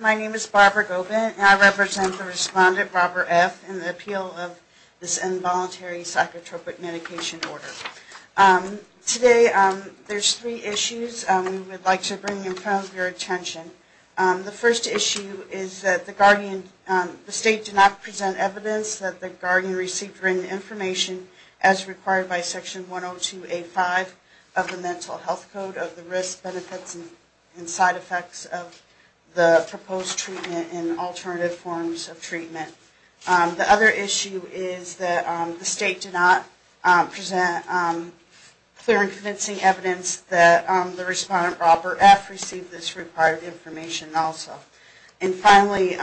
My name is Barbara Gobin, and I represent the respondent Robert F. in the appeal of this involuntary psychotropic medication order. Today, there are three issues we would like to bring up. The first issue is that the state did not present evidence that the guardian received written information as required by Section 102A5 of the Mental Health Code of the risk, benefits, and side effects of the proposed treatment and alternative forms of treatment. The other issue is that the state did not present clear and convincing evidence that the respondent Robert F. received this required information also. And finally,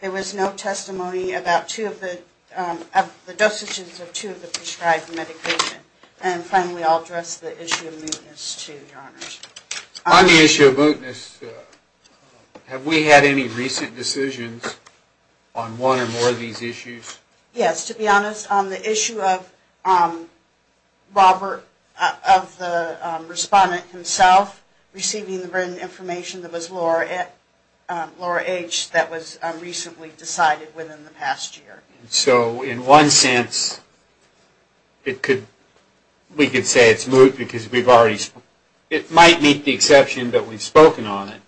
there was no testimony about two of the dosages of two of the prescribed medication. And finally, I'll address the issue of mootness to your honors. On the issue of mootness, have we had any recent decisions on one or more of these issues? Yes, to be honest, on the issue of Robert, of the respondent himself, receiving the written information that was Laura H. that was recently decided within the past year. So in one sense, we could say it's moot because it might meet the exception that we've spoken on it.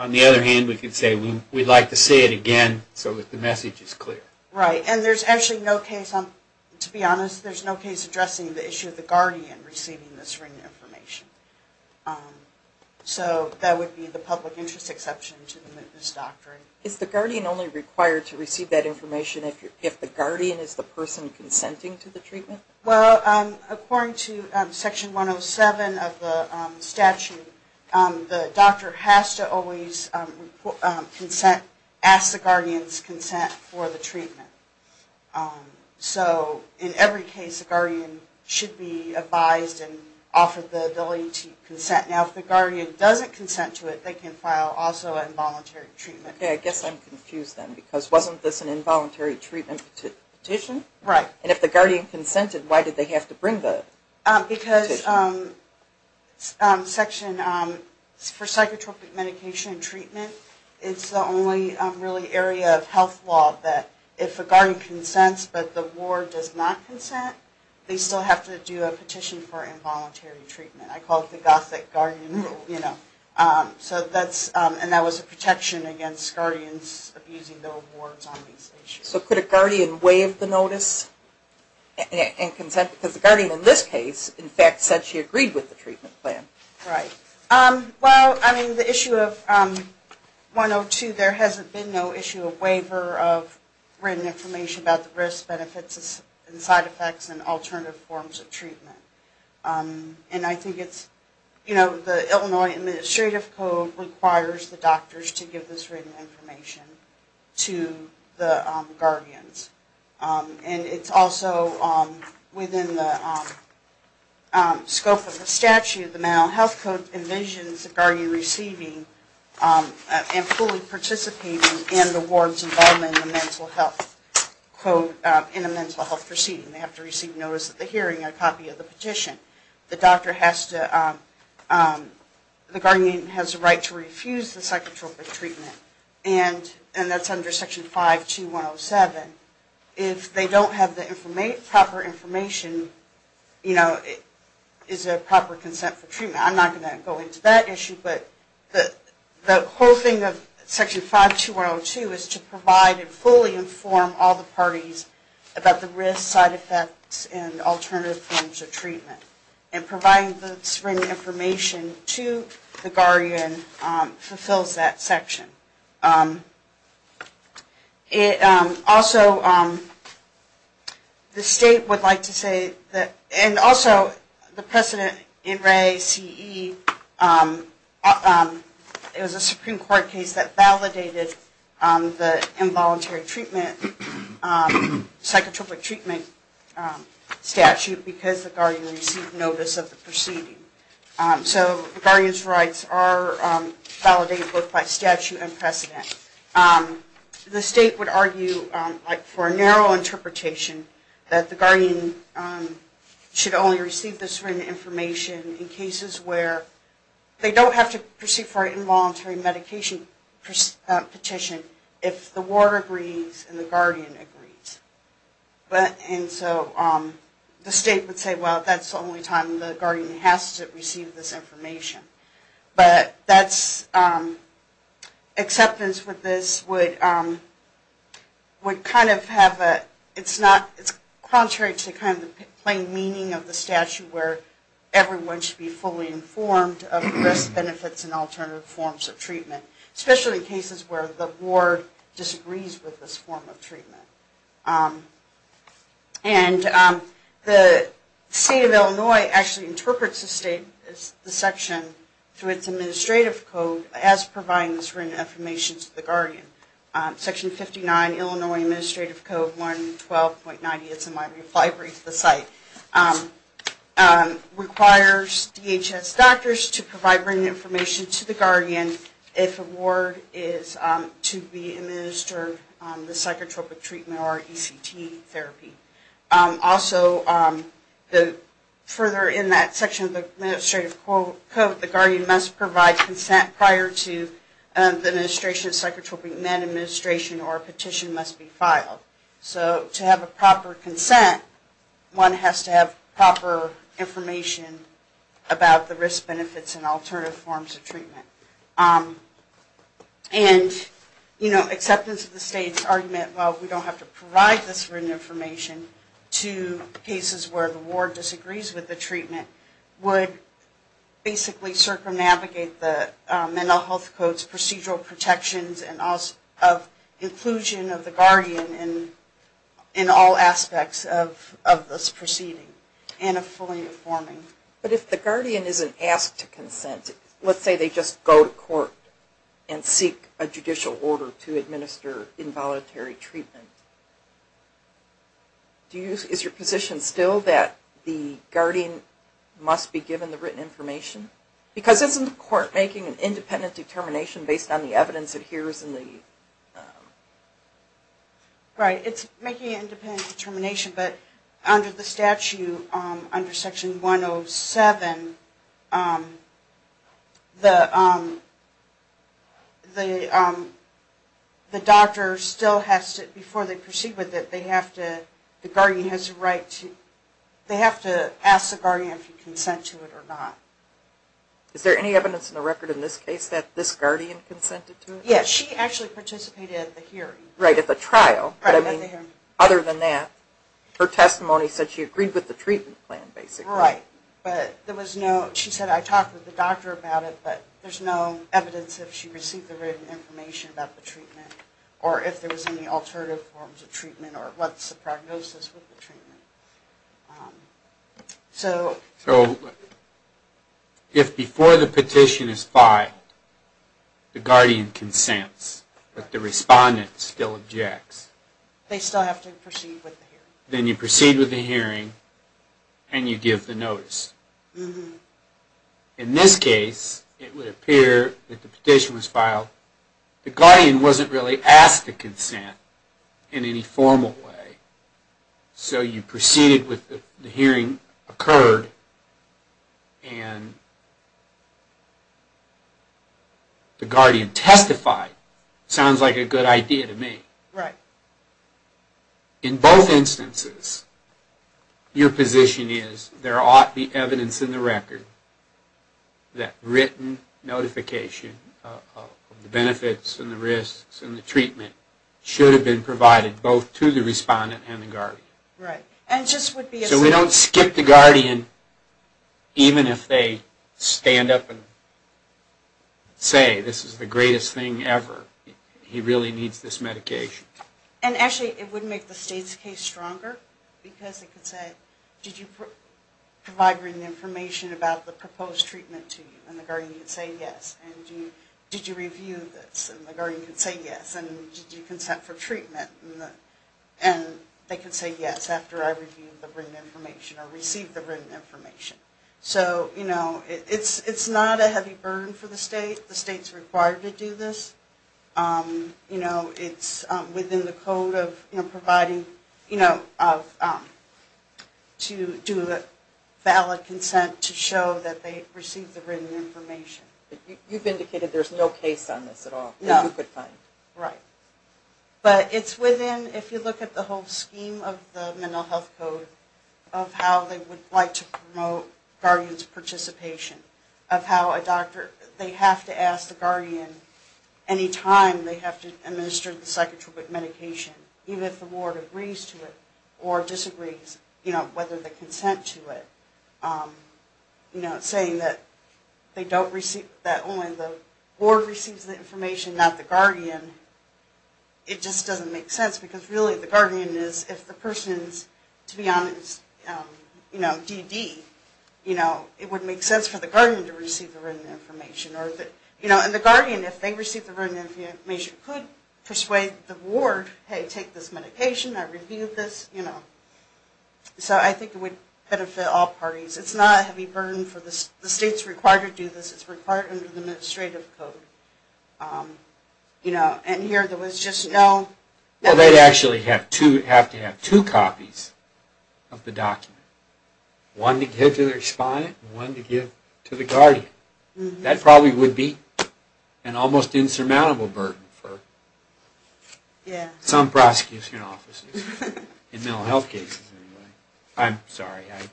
On the other hand, we could say we'd like to see it again so that the message is clear. Right, and there's actually no case, to be honest, there's no case addressing the issue of the guardian receiving this written information. So that would be the public interest exception to the mootness doctrine. Is the guardian only required to receive that information if the guardian is the person consenting to the treatment? Well, according to Section 107 of the statute, the doctor has to always ask the guardian's consent for the treatment. So in every case, the guardian should be advised and offered the ability to consent. Now, if the guardian doesn't consent to it, they can file also involuntary treatment. Okay, I guess I'm confused then because wasn't this an involuntary treatment petition? Right. And if the guardian consented, why did they have to bring the petition? Because Section, for psychotropic medication treatment, it's the only really area of health law that if a guardian consents but the ward does not consent, they still have to do a petition for involuntary treatment. I call it the gothic guardian rule, you know. So that's, and that was a protection against guardians abusing their wards on these issues. So could a guardian waive the notice and consent? Because the guardian in this case, in fact, said she agreed with the treatment plan. Right. Well, I mean, the issue of 102, there hasn't been no issue of waiver of written information about the risks, benefits, and side effects and alternative forms of treatment. And I think it's, you know, the Illinois Administrative Code requires the doctors to give this written information to the guardians. And it's also within the scope of the statute, the Mental Health Code envisions the guardian receiving and fully participating in the ward's involvement in the mental health code, in a mental health proceeding. They have to receive notice at the hearing, a copy of the petition. The doctor has to, the guardian has the right to refuse the psychotropic treatment. And that's under Section 52107. If they don't have the proper information, you know, is there proper consent for treatment? I'm not going to go into that issue, but the whole thing of Section 52102 is to provide and fully inform all the parties about the risks, side effects, and alternative forms of treatment. And providing the written information to the guardian fulfills that section. It also, the state would like to say that, and also the President N. Ray, C.E., it was a Supreme Court case that validated the involuntary treatment, psychotropic treatment statute because the guardian received notice of the proceeding. So the guardian's rights are validated both by statute and precedent. The state would argue for a narrow interpretation that the guardian should only receive this written information in cases where they don't have to proceed for an involuntary medication petition if the ward agrees and the guardian agrees. And so the state would say, well, that's the only time the guardian has to receive this information. But that's, acceptance with this would kind of have a, it's not, it's contrary to kind of the plain meaning of the statute where everyone should be fully informed of the risks, benefits, and alternative forms of treatment, especially in cases where the ward disagrees with this form of treatment. And the state of Illinois actually interprets the state, the section, through its administrative code as providing this written information to the guardian. Section 59, Illinois Administrative Code 112.90, it's in my brief, I briefed the site, requires DHS doctors to provide written information to the guardian if a ward is to be administered the psychotropic treatment or ECT. Also, further in that section of the administrative code, the guardian must provide consent prior to the administration of psychotropic med administration or a petition must be filed. So to have a proper consent, one has to have proper information about the risk, benefits, and alternative forms of treatment. And, you know, acceptance of the state's argument, well, we don't have to provide this written information to cases where the ward disagrees with the treatment, would basically circumnavigate the mental health codes, procedural protections, and also of inclusion of the guardian in all aspects of this proceeding and of fully informing. But if the guardian isn't asked to consent, let's say they just go to court and seek a judicial order to administer involuntary treatment, is your position still that the guardian must be given the written information? Because isn't the court making an independent determination based on the evidence it hears in the... Right, it's making an independent determination, but under the statute, under section 107, the doctor still has to, before they proceed with it, they have to, the guardian has a right to, they have to ask the guardian if he consents to it or not. Is there any evidence in the record in this case that this guardian consented to it? Yes, she actually participated at the hearing. Right, at the trial, but I mean, other than that, her testimony said she agreed with the treatment plan, basically. Right, but there was no, she said, I talked with the doctor about it, but there's no evidence that she received the written information about the treatment, or if there was any alternative forms of treatment, or what's the prognosis with the treatment. So, if before the petition is filed, the guardian consents, but the respondent still objects... They still have to proceed with the hearing. Then you proceed with the hearing, and you give the notice. In this case, it would appear that the petition was filed, the guardian wasn't really asked to consent in any formal way, so you proceed with the hearing. Proceeded with the hearing occurred, and the guardian testified. Sounds like a good idea to me. Right. In both instances, your position is, there ought to be evidence in the record that written notification of the benefits and the risks and the treatment should have been provided both to the respondent and the guardian. So we don't skip the guardian, even if they stand up and say, this is the greatest thing ever, he really needs this medication. And actually, it would make the state's case stronger, because it could say, did you provide written information about the proposed treatment to you, and the guardian could say yes, and did you review this, and the guardian could say yes, and did you consent for treatment, and they could say yes after I reviewed it. So it's not a heavy burden for the state, the state's required to do this, it's within the code of providing, to do a valid consent to show that they received the written information. You've indicated there's no case on this at all, that you could find. Right. But it's within, if you look at the whole scheme of the mental health code, of how they would like to promote guardian's participation. Of how a doctor, they have to ask the guardian any time they have to administer the psychotropic medication, even if the ward agrees to it, or disagrees, you know, whether they consent to it. You know, saying that they don't receive, that only the ward receives the information, not the guardian. It just doesn't make sense, because really the guardian is, if the person's, to be honest, you know, DD, you know, it would make sense for the guardian to receive the written information. You know, and the guardian, if they receive the written information, could persuade the ward, hey, take this medication, I reviewed this, you know. So I think it would benefit all parties. It's not a heavy burden for the, the state's required to do this, it's required under the administrative code. You know, and here there was just no... Well, they'd actually have to have two copies of the document. One to give to their respondent, and one to give to the guardian. That probably would be an almost insurmountable burden for... Yeah. Some prosecution offices, in mental health cases anyway. I'm sorry, I...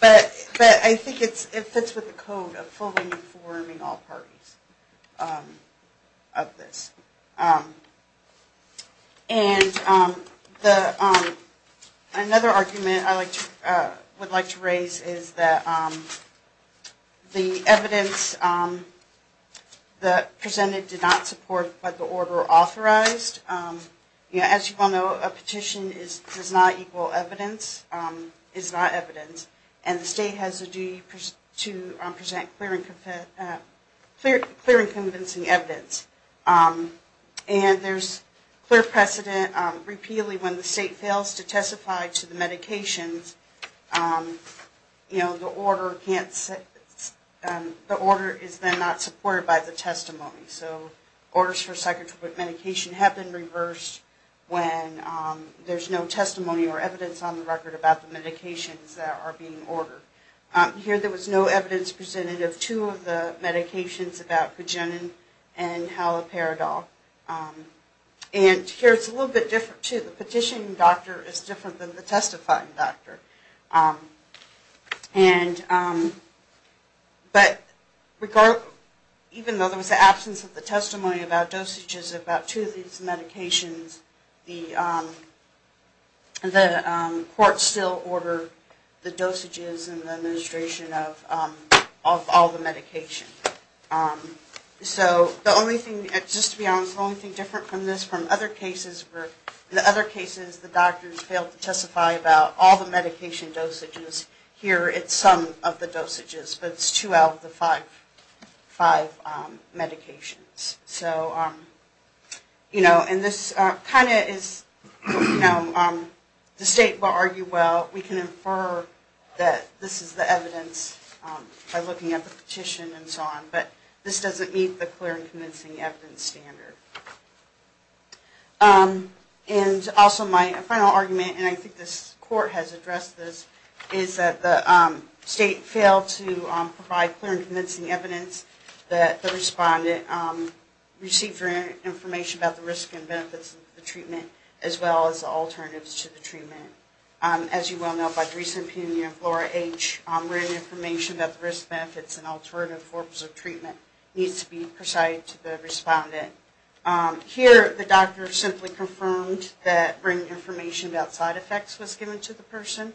But I think it fits with the code of fully informing all parties of this. And another argument I would like to raise is that the evidence that presented did not support what the order authorized. You know, as you all know, a petition does not equal evidence, is not evidence. And the state has a duty to present clear and convincing evidence. And there's clear precedent, repeatedly when the state fails to testify to the medications, you know, the order can't... The order is then not supported by the testimony. So orders for psychotropic medication have been reversed when there's no testimony or evidence on the record about the medications that are being used. Here there was no evidence presented of two of the medications about Pugenin and Haloperidol. And here it's a little bit different, too. The petitioning doctor is different than the testifying doctor. And... But even though there was the absence of the testimony about dosages about two of these medications, there was no testimony about the dosages and the administration of all the medications. So the only thing... Just to be honest, the only thing different from this, from other cases where... In the other cases, the doctors failed to testify about all the medication dosages. Here it's some of the dosages, but it's two out of the five medications. So, you know, and this kind of is... The state will argue, well, we can infer that this is the evidence by looking at the petition and so on, but this doesn't meet the clear and convincing evidence standard. And also my final argument, and I think this court has addressed this, is that the state failed to provide clear and convincing evidence that the respondent received information about the risk and benefits of the treatment as well as the alternatives to the treatment. As you well know, by the recent opinion of Laura H., written information about the risk, benefits, and alternative forms of treatment needs to be presided to the respondent. Here, the doctor simply confirmed that written information about side effects was given to the person.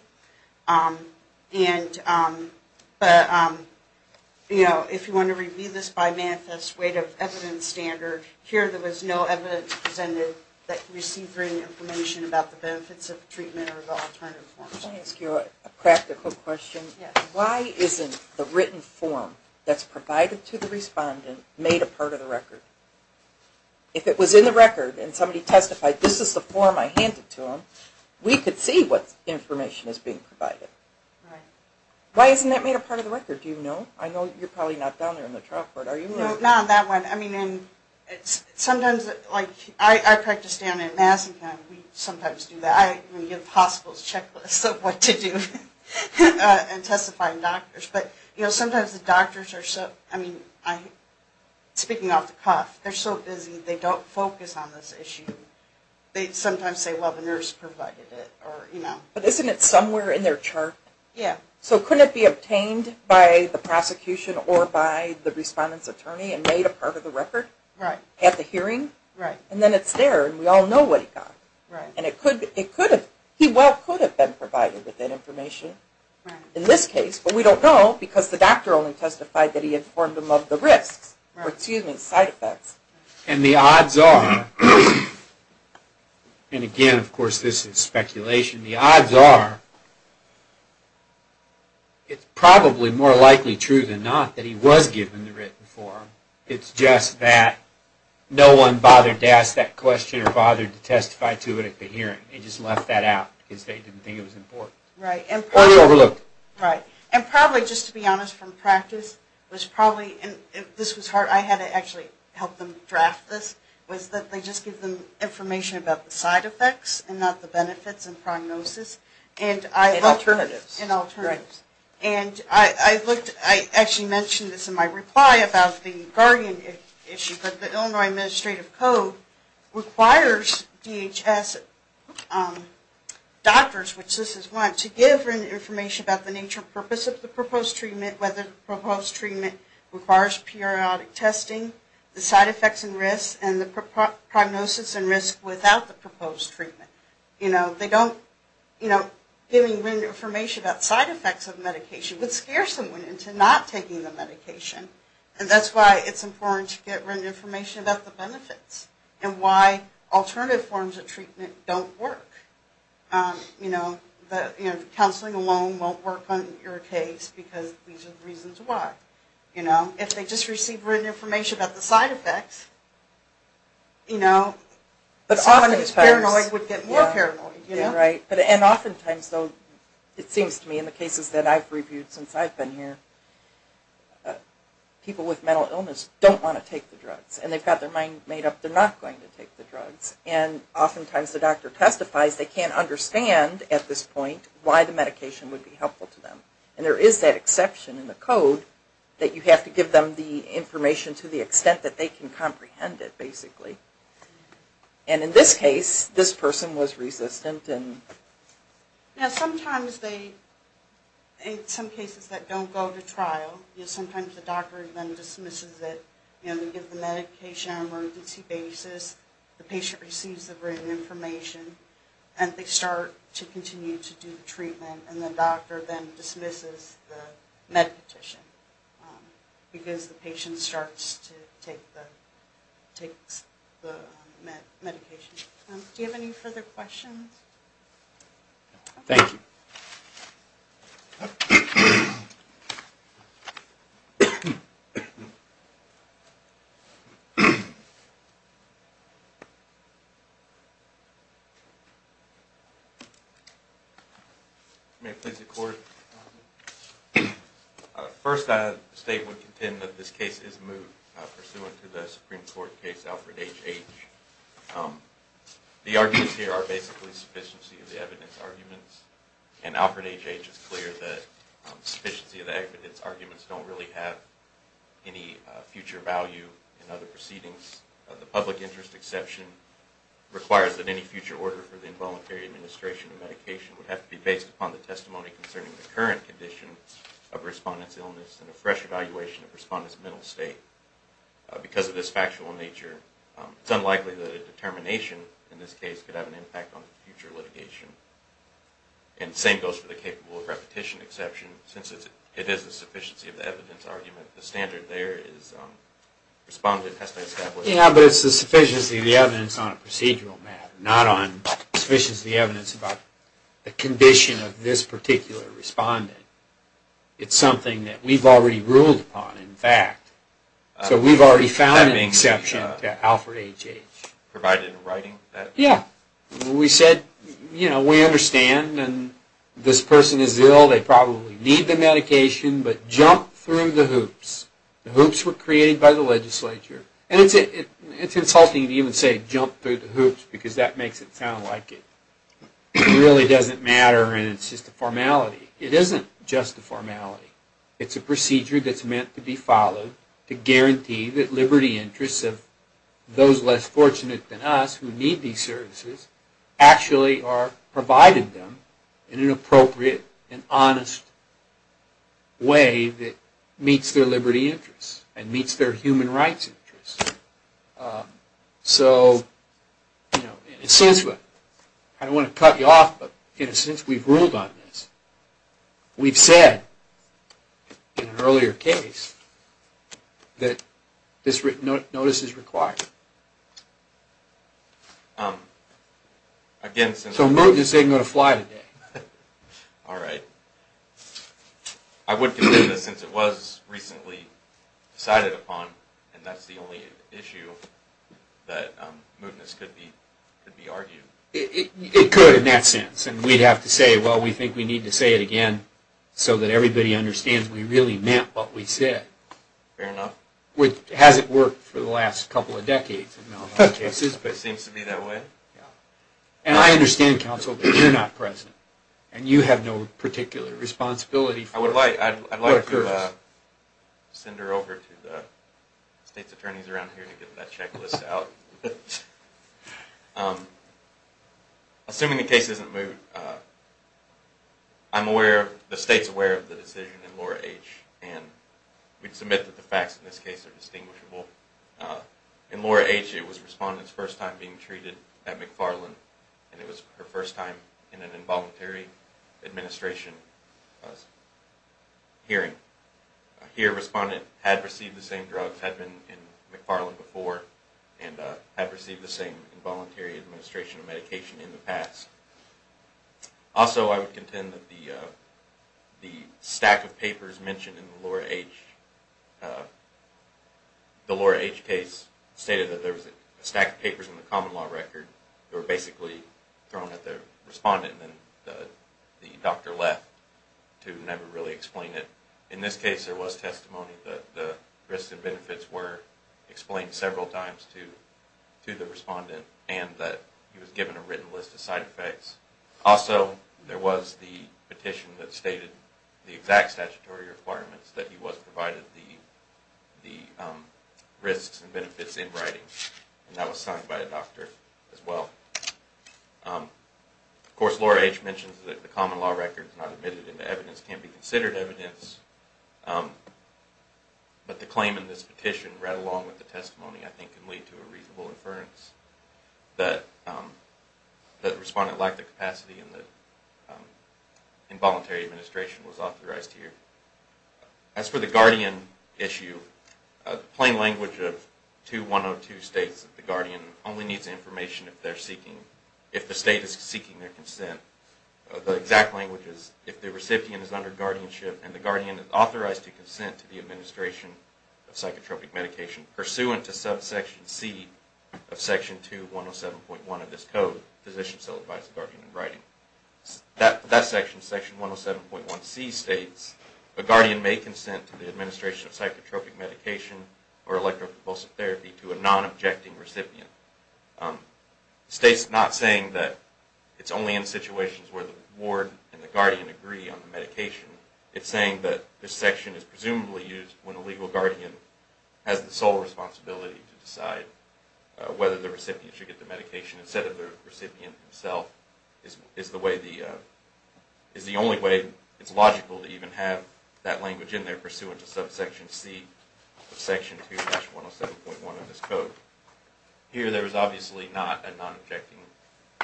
And... But, you know, if you want to review this by manifest weight of evidence standard, here there was no evidence presented that received written information about the benefits of treatment or the alternative forms. Can I ask you a practical question? Why isn't the written form that's provided to the respondent made a part of the record? If it was in the record and somebody testified, this is the form I handed to them, we could see what information is being provided. Why isn't that made a part of the record? Do you know? I know you're probably not down there in the chalkboard, are you? No, not on that one. I mean, sometimes... I practice down at Madison County. We sometimes do that. We give hospitals checklists of what to do in testifying doctors. But, you know, sometimes the doctors are so... I mean, speaking off the cuff, they're so busy, they don't focus on this issue. They sometimes say, well, the nurse provided it. But isn't it somewhere in their chart? So couldn't it be obtained by the prosecution or by the respondent's attorney and made a part of the record at the hearing? And then it's there, and we all know what he got. He well could have been provided with that information in this case, but we don't know because the doctor only testified that he informed them of the risks. Or, excuse me, side effects. And the odds are, and again, of course, this is speculation, the odds are it's probably more likely true than not that he was given the written form. It's just that no one bothered to ask that question or bothered to testify to it at the hearing. They just left that out because they didn't think it was important. Or they overlooked it. Right. And probably, just to be honest, from practice, and this was hard, I had to actually help them draft this, was that they just give them information about the side effects and not the benefits and prognosis. And alternatives. And I actually mentioned this in my reply about the guardian issue, but the Illinois Administrative Code requires DHS doctors, which this is one, to give written information about the nature and purpose of the proposed treatment, whether the proposed treatment requires periodic testing, the side effects and risks, and the prognosis and risk without the proposed treatment. You know, they don't, you know, giving written information about side effects of medication would scare someone into not taking the medication. And that's why it's important to get written information about the benefits and why alternative forms of treatment don't work. You know, counseling alone won't work on your case because these are the reasons why. If they just receive written information about the side effects, you know, someone who's paranoid would get more paranoid. And often times, though, it seems to me in the cases that I've reviewed since I've been here, people with mental illness don't want to take the drugs. And they've got their mind made up they're not going to take the drugs. And often times the doctor testifies they can't understand at this point why the medication would be helpful to them. And there is that exception in the code that you have to give them the information to the extent that they can comprehend it, basically. And in this case, this person was resistant and... Now sometimes they, in some cases that don't go to trial, you know, sometimes the doctor then dismisses it, you know, they give the medication on an emergency basis, the patient receives the written information, and they start to continue to do the treatment, and the doctor then dismisses the medication because the patient starts to take the medication. Do you have any further questions? Thank you. May I please have the floor? First, I would state and contend that this case is moot pursuant to the Supreme Court case Alfred H. H. The arguments here are basically sufficiency of the evidence arguments. And Alfred H. H. is clear that sufficiency of the evidence arguments don't really have any future value in other proceedings. The public interest exception requires that any future order for the involuntary administration of medication would have to be based upon the testimony concerning the current condition of respondent's illness and a fresh evaluation of respondent's mental state. Because of this factual nature, it's unlikely that a determination in this case could have an impact on future litigation. And same goes for the capable of repetition exception. Since it is the sufficiency of the evidence argument, the standard there is respondent has to establish Yeah, but it's the sufficiency of the evidence on a procedural matter, not on sufficiency of the evidence about the condition of this particular respondent. It's something that we've already ruled upon, in fact. So we've already found an exception to Alfred H. H. provided in writing? Yeah. We said we understand this person is ill, they probably need the medication, but jump through the hoops. The hoops were created by the legislature. And it's insulting to even say jump through the hoops because that makes it sound like it really doesn't matter and it's just a formality. It isn't just a formality. It's a procedure that's meant to be followed to guarantee that liberty interests of those less fortunate than us who need these services actually are provided them in an appropriate and honest way that meets their liberty interests and meets their human rights interests. So, in a sense, I don't want to cut you off, but in a sense we've ruled on this. We've said in an earlier case that this notice is required. So, Mootness isn't going to fly today? I would consider this, since it was recently decided upon, and that's the only issue that Mootness could be argued. It could in that sense. And we'd have to say, well, we think we need to say it again so that everybody understands we really meant what we said. Fair enough. It hasn't worked for the last couple of decades. It seems to be that way. And I understand, counsel, that you're not present and you have no particular responsibility. I'd like to send her over to the state's attorneys around here to get that checklist out. Assuming the case isn't Moot, I'm aware, the state's aware of the decision in Laura H. And we'd submit that the facts in this case are distinguishable. In Laura H., it was Respondent's first time being treated at McFarland. And it was her first time in an involuntary administration hearing. Here, Respondent had received the same drugs, had been in McFarland before, and had received the same involuntary administration of medication in the past. Also, I would contend that the information in the Laura H. case stated that there was a stack of papers in the common law record that were basically thrown at the Respondent and then the doctor left to never really explain it. In this case, there was testimony that the risks and benefits were explained several times to the Respondent and that he was given a written list of side effects. Also, there was the petition that stated the exact statutory requirements that he was provided the risks and benefits in writing. And that was signed by a doctor as well. Of course, Laura H. mentions that the common law record is not admitted and the evidence can't be considered evidence. But the claim in this petition right along with the testimony, I think, can lead to a reasonable inference that Respondent lacked the capacity in the involuntary administration was authorized here. As for the guardian issue, the plain language of 2-102 states that the guardian only needs information if the state is seeking their consent. The exact language is, if the recipient is under guardianship and the guardian is authorized to consent to the administration of psychotropic medication pursuant to subsection C of section 2-107.1 of this Code, Physician, Cell Advisor, Guardian and Writing. That section, section 107.1c states a guardian may consent to the administration of psychotropic medication or electrophoresis therapy to a non-objecting recipient. It states not saying that it's only in situations where the ward and the guardian agree on the medication. It's saying that this section is presumably used when a legal guardian has the sole responsibility to decide whether the recipient should get the medication instead of the guardian. This is the only way it's logical to even have that language in there pursuant to subsection C of section 2-107.1 of this Code. Here there is obviously not a non-objecting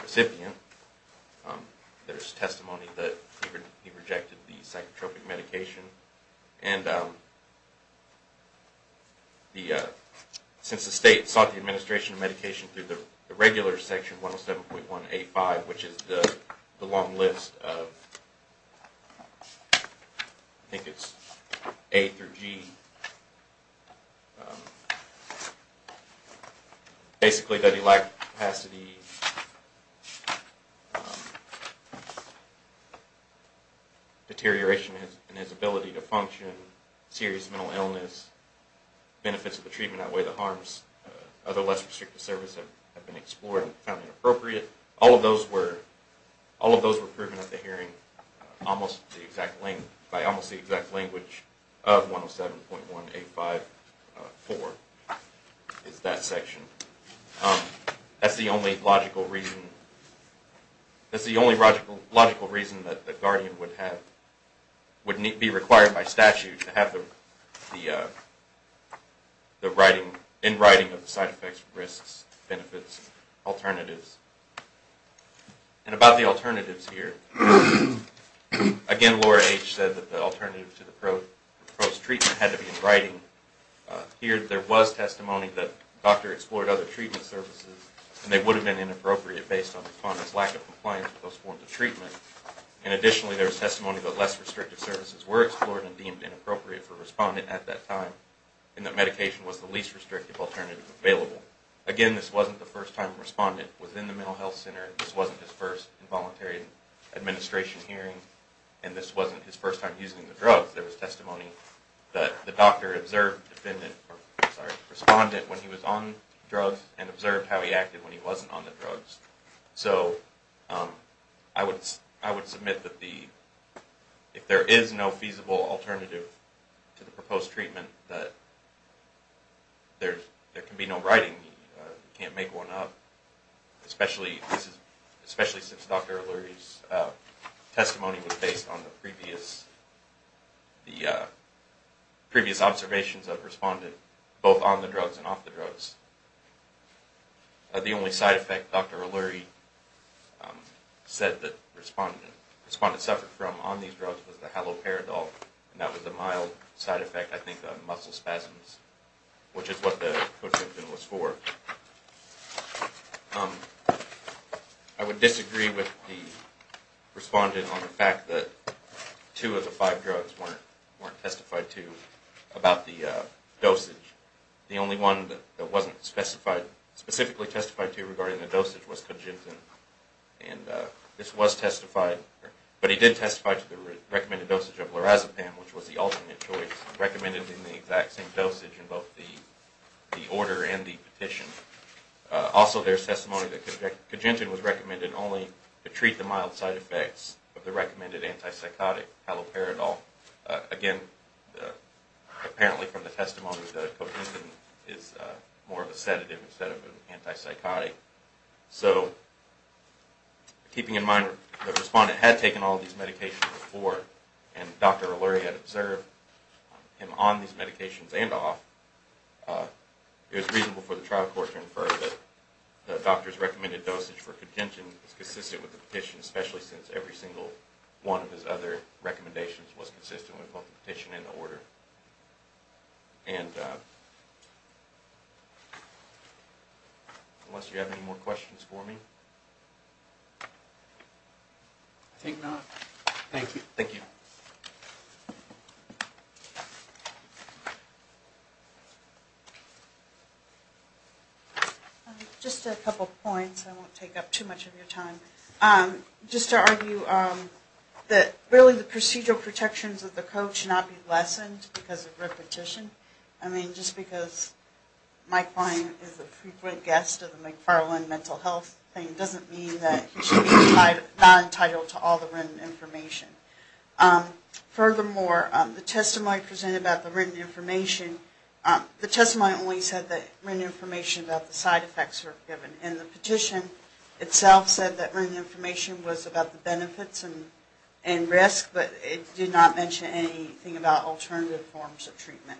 recipient. There is testimony that he rejected the psychotropic medication and since the state sought the administration of medication through the regular section 107.1a-5, which is the long list of I think it's A through G basically that he lacked capacity deterioration in his ability to function, serious mental illness, benefits of the treatment that way the harms of the less restrictive service have been explored and found inappropriate. All of those were proven at the hearing by almost the exact language of 107.1a-5-4 is that section. That's the only logical reason that the guardian would be required by statute to have the in writing of the side effects, risks, benefits, alternatives. And about the alternatives here, again Laura H. said that the alternative to the prose treatment had to be in writing. Here there was testimony that the doctor explored other treatment services and they would have been inappropriate based on the respondent's lack of compliance with those forms of treatment. And additionally there was testimony that less restrictive services were explored and deemed inappropriate for the respondent at that time and that medication was the least restrictive alternative available. Again this wasn't the first time a respondent was in the mental health center, this wasn't his first involuntary administration hearing, and this wasn't his first time using the drugs. There was testimony that the doctor observed the respondent when he was on drugs and observed how he acted when he wasn't on the drugs. So I would submit that if there is no feasible alternative to the proposed treatment that there can be no writing, you can't make one up, especially since Dr. O'Leary's testimony was based on the previous observations of the respondent both on the drugs and off the drugs. The only side effect Dr. O'Leary said that the respondent suffered from on these drugs was the haloperidol and that was a mild side effect I think of muscle spasms, which is what the cojunctin was for. I would disagree with the respondent on the fact that two of the five drugs weren't testified to about the dosage. The only one that wasn't specifically testified to regarding the dosage was cojunctin and this was testified but he did testify to the recommended dosage of lorazepam, which was the alternate choice recommended in the exact same dosage in both the order and the petition. Also there is testimony that cojunctin was recommended only to treat the mild side effects of the recommended antipsychotic haloperidol. Again apparently from the testimony that cojunctin is more of a sedative instead of an antipsychotic. Keeping in mind the respondent had taken all these medications before and Dr. O'Leary had observed him on these medications and off, it was reasonable for the trial court to infer that the doctor's recommended dosage for cojunctin was consistent with the petition, especially since every single one of his other recommendations was consistent with both the petition and the order. And unless you have any more questions for me. I think not. Thank you. Just a couple points. I won't take up too much of your time. Just to argue that really the procedural protections of the code should not be lessened because of repetition. I mean just because Mike Klein is a frequent guest of the McFarland Mental Health doesn't mean that he should be not entitled to all the written information. Furthermore, the testimony presented about the written information, the testimony only said that written information about the side effects were given and the petition itself said that written information was about the benefits and risks, but it did not mention anything about alternative forms of treatment.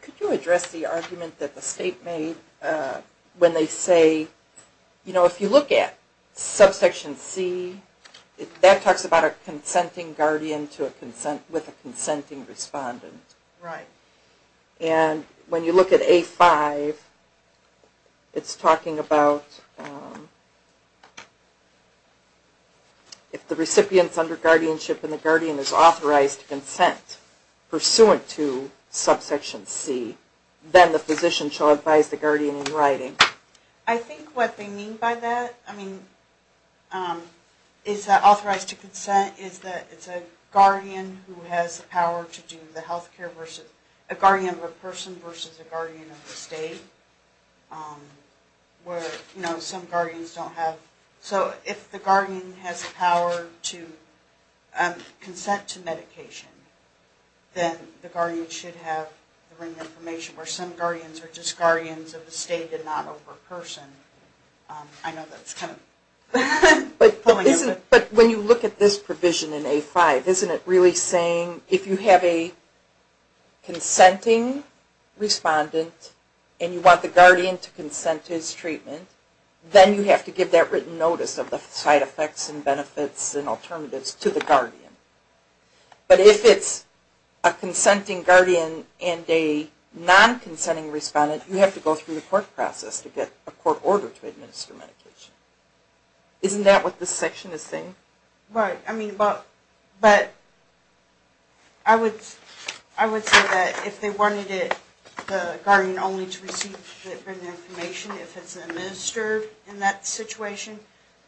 Could you address the argument that the state made when they say, you know, if you look at subsection C, that talks about a consenting guardian with a consenting respondent. Right. And when you look at A5, it's talking about if the recipient is under guardianship and the guardian is authorized to consent pursuant to subsection C, then the physician shall advise the guardian in writing. I think what they mean by that, I mean, is that authorized to consent is that it's a guardian who has the power to do the healthcare versus, a guardian of a person versus a guardian of the state. Where, you know, some guardians don't have, so if the guardian has the power to consent to medication, then the guardian should have the written information, where some guardians are just guardians of the state and not of a person. I know that's kind of... But when you look at this provision in A5, isn't it really saying if you have a consenting respondent and you want the guardian to consent to his treatment, then you have to give that written notice of the side effects and benefits and alternatives to the guardian. But if it's a consenting guardian and a non-consenting respondent, you have to go through the court process to get a court order to administer medication. Isn't that what this section is saying? Right. I mean, but I would say that if they wanted the guardian only to receive the written information if it's administered in that situation,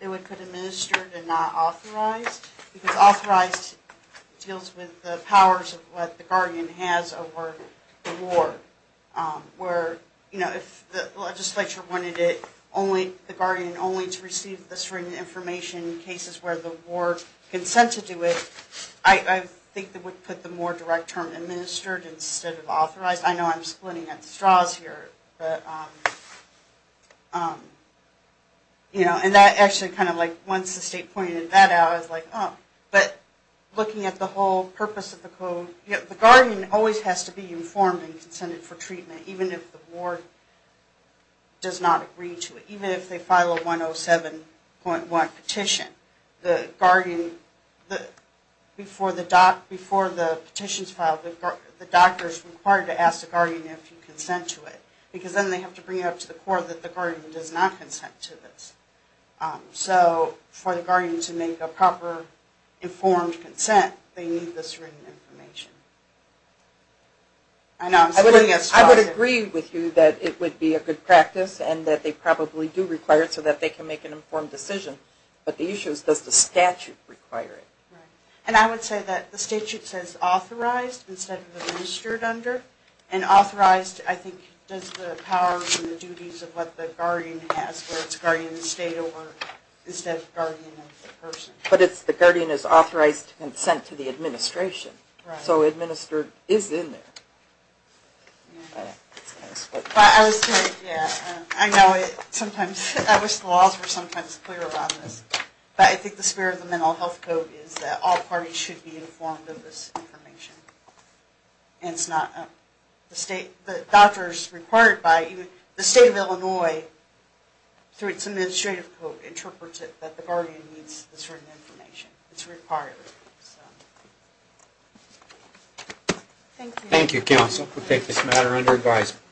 they would put administered and not authorized. Because authorized deals with the powers of what the guardian has over the ward. Where, you know, if the legislature wanted the guardian only to receive the written information in cases where the I think they would put the more direct term administered instead of authorized. I know I'm splitting up the straws here, but you know, and that actually kind of like once the state pointed that out, I was like, oh. But looking at the whole purpose of the code, the guardian always has to be informed and consented for treatment even if the ward does not agree to it. Even if they file a 107.1 petition, the before the petitions filed, the doctor is required to ask the guardian if he can consent to it. Because then they have to bring it up to the court that the guardian does not consent to this. So for the guardian to make a proper informed consent, they need this written information. I know I'm splitting the straws here. I would agree with you that it would be a good practice and that they probably do require it so that they can make an informed decision. But the issue is does the statute require it? And I would say that the statute says authorized instead of administered under. And authorized I think does the powers and the duties of what the guardian has where it's guardian of the state over instead of guardian of the person. But it's the guardian is authorized to consent to the administration. So administered is in there. But I was thinking, yeah, I know it sometimes, I wish the laws were sometimes clearer about this. But I think the spirit of the Mental Health Code is that all parties should be informed of this information. And it's not the state, the doctor is required by, the state of Illinois through its administrative code interprets it that the guardian needs this written information. It's required. Thank you counsel. We'll take this matter under advisement.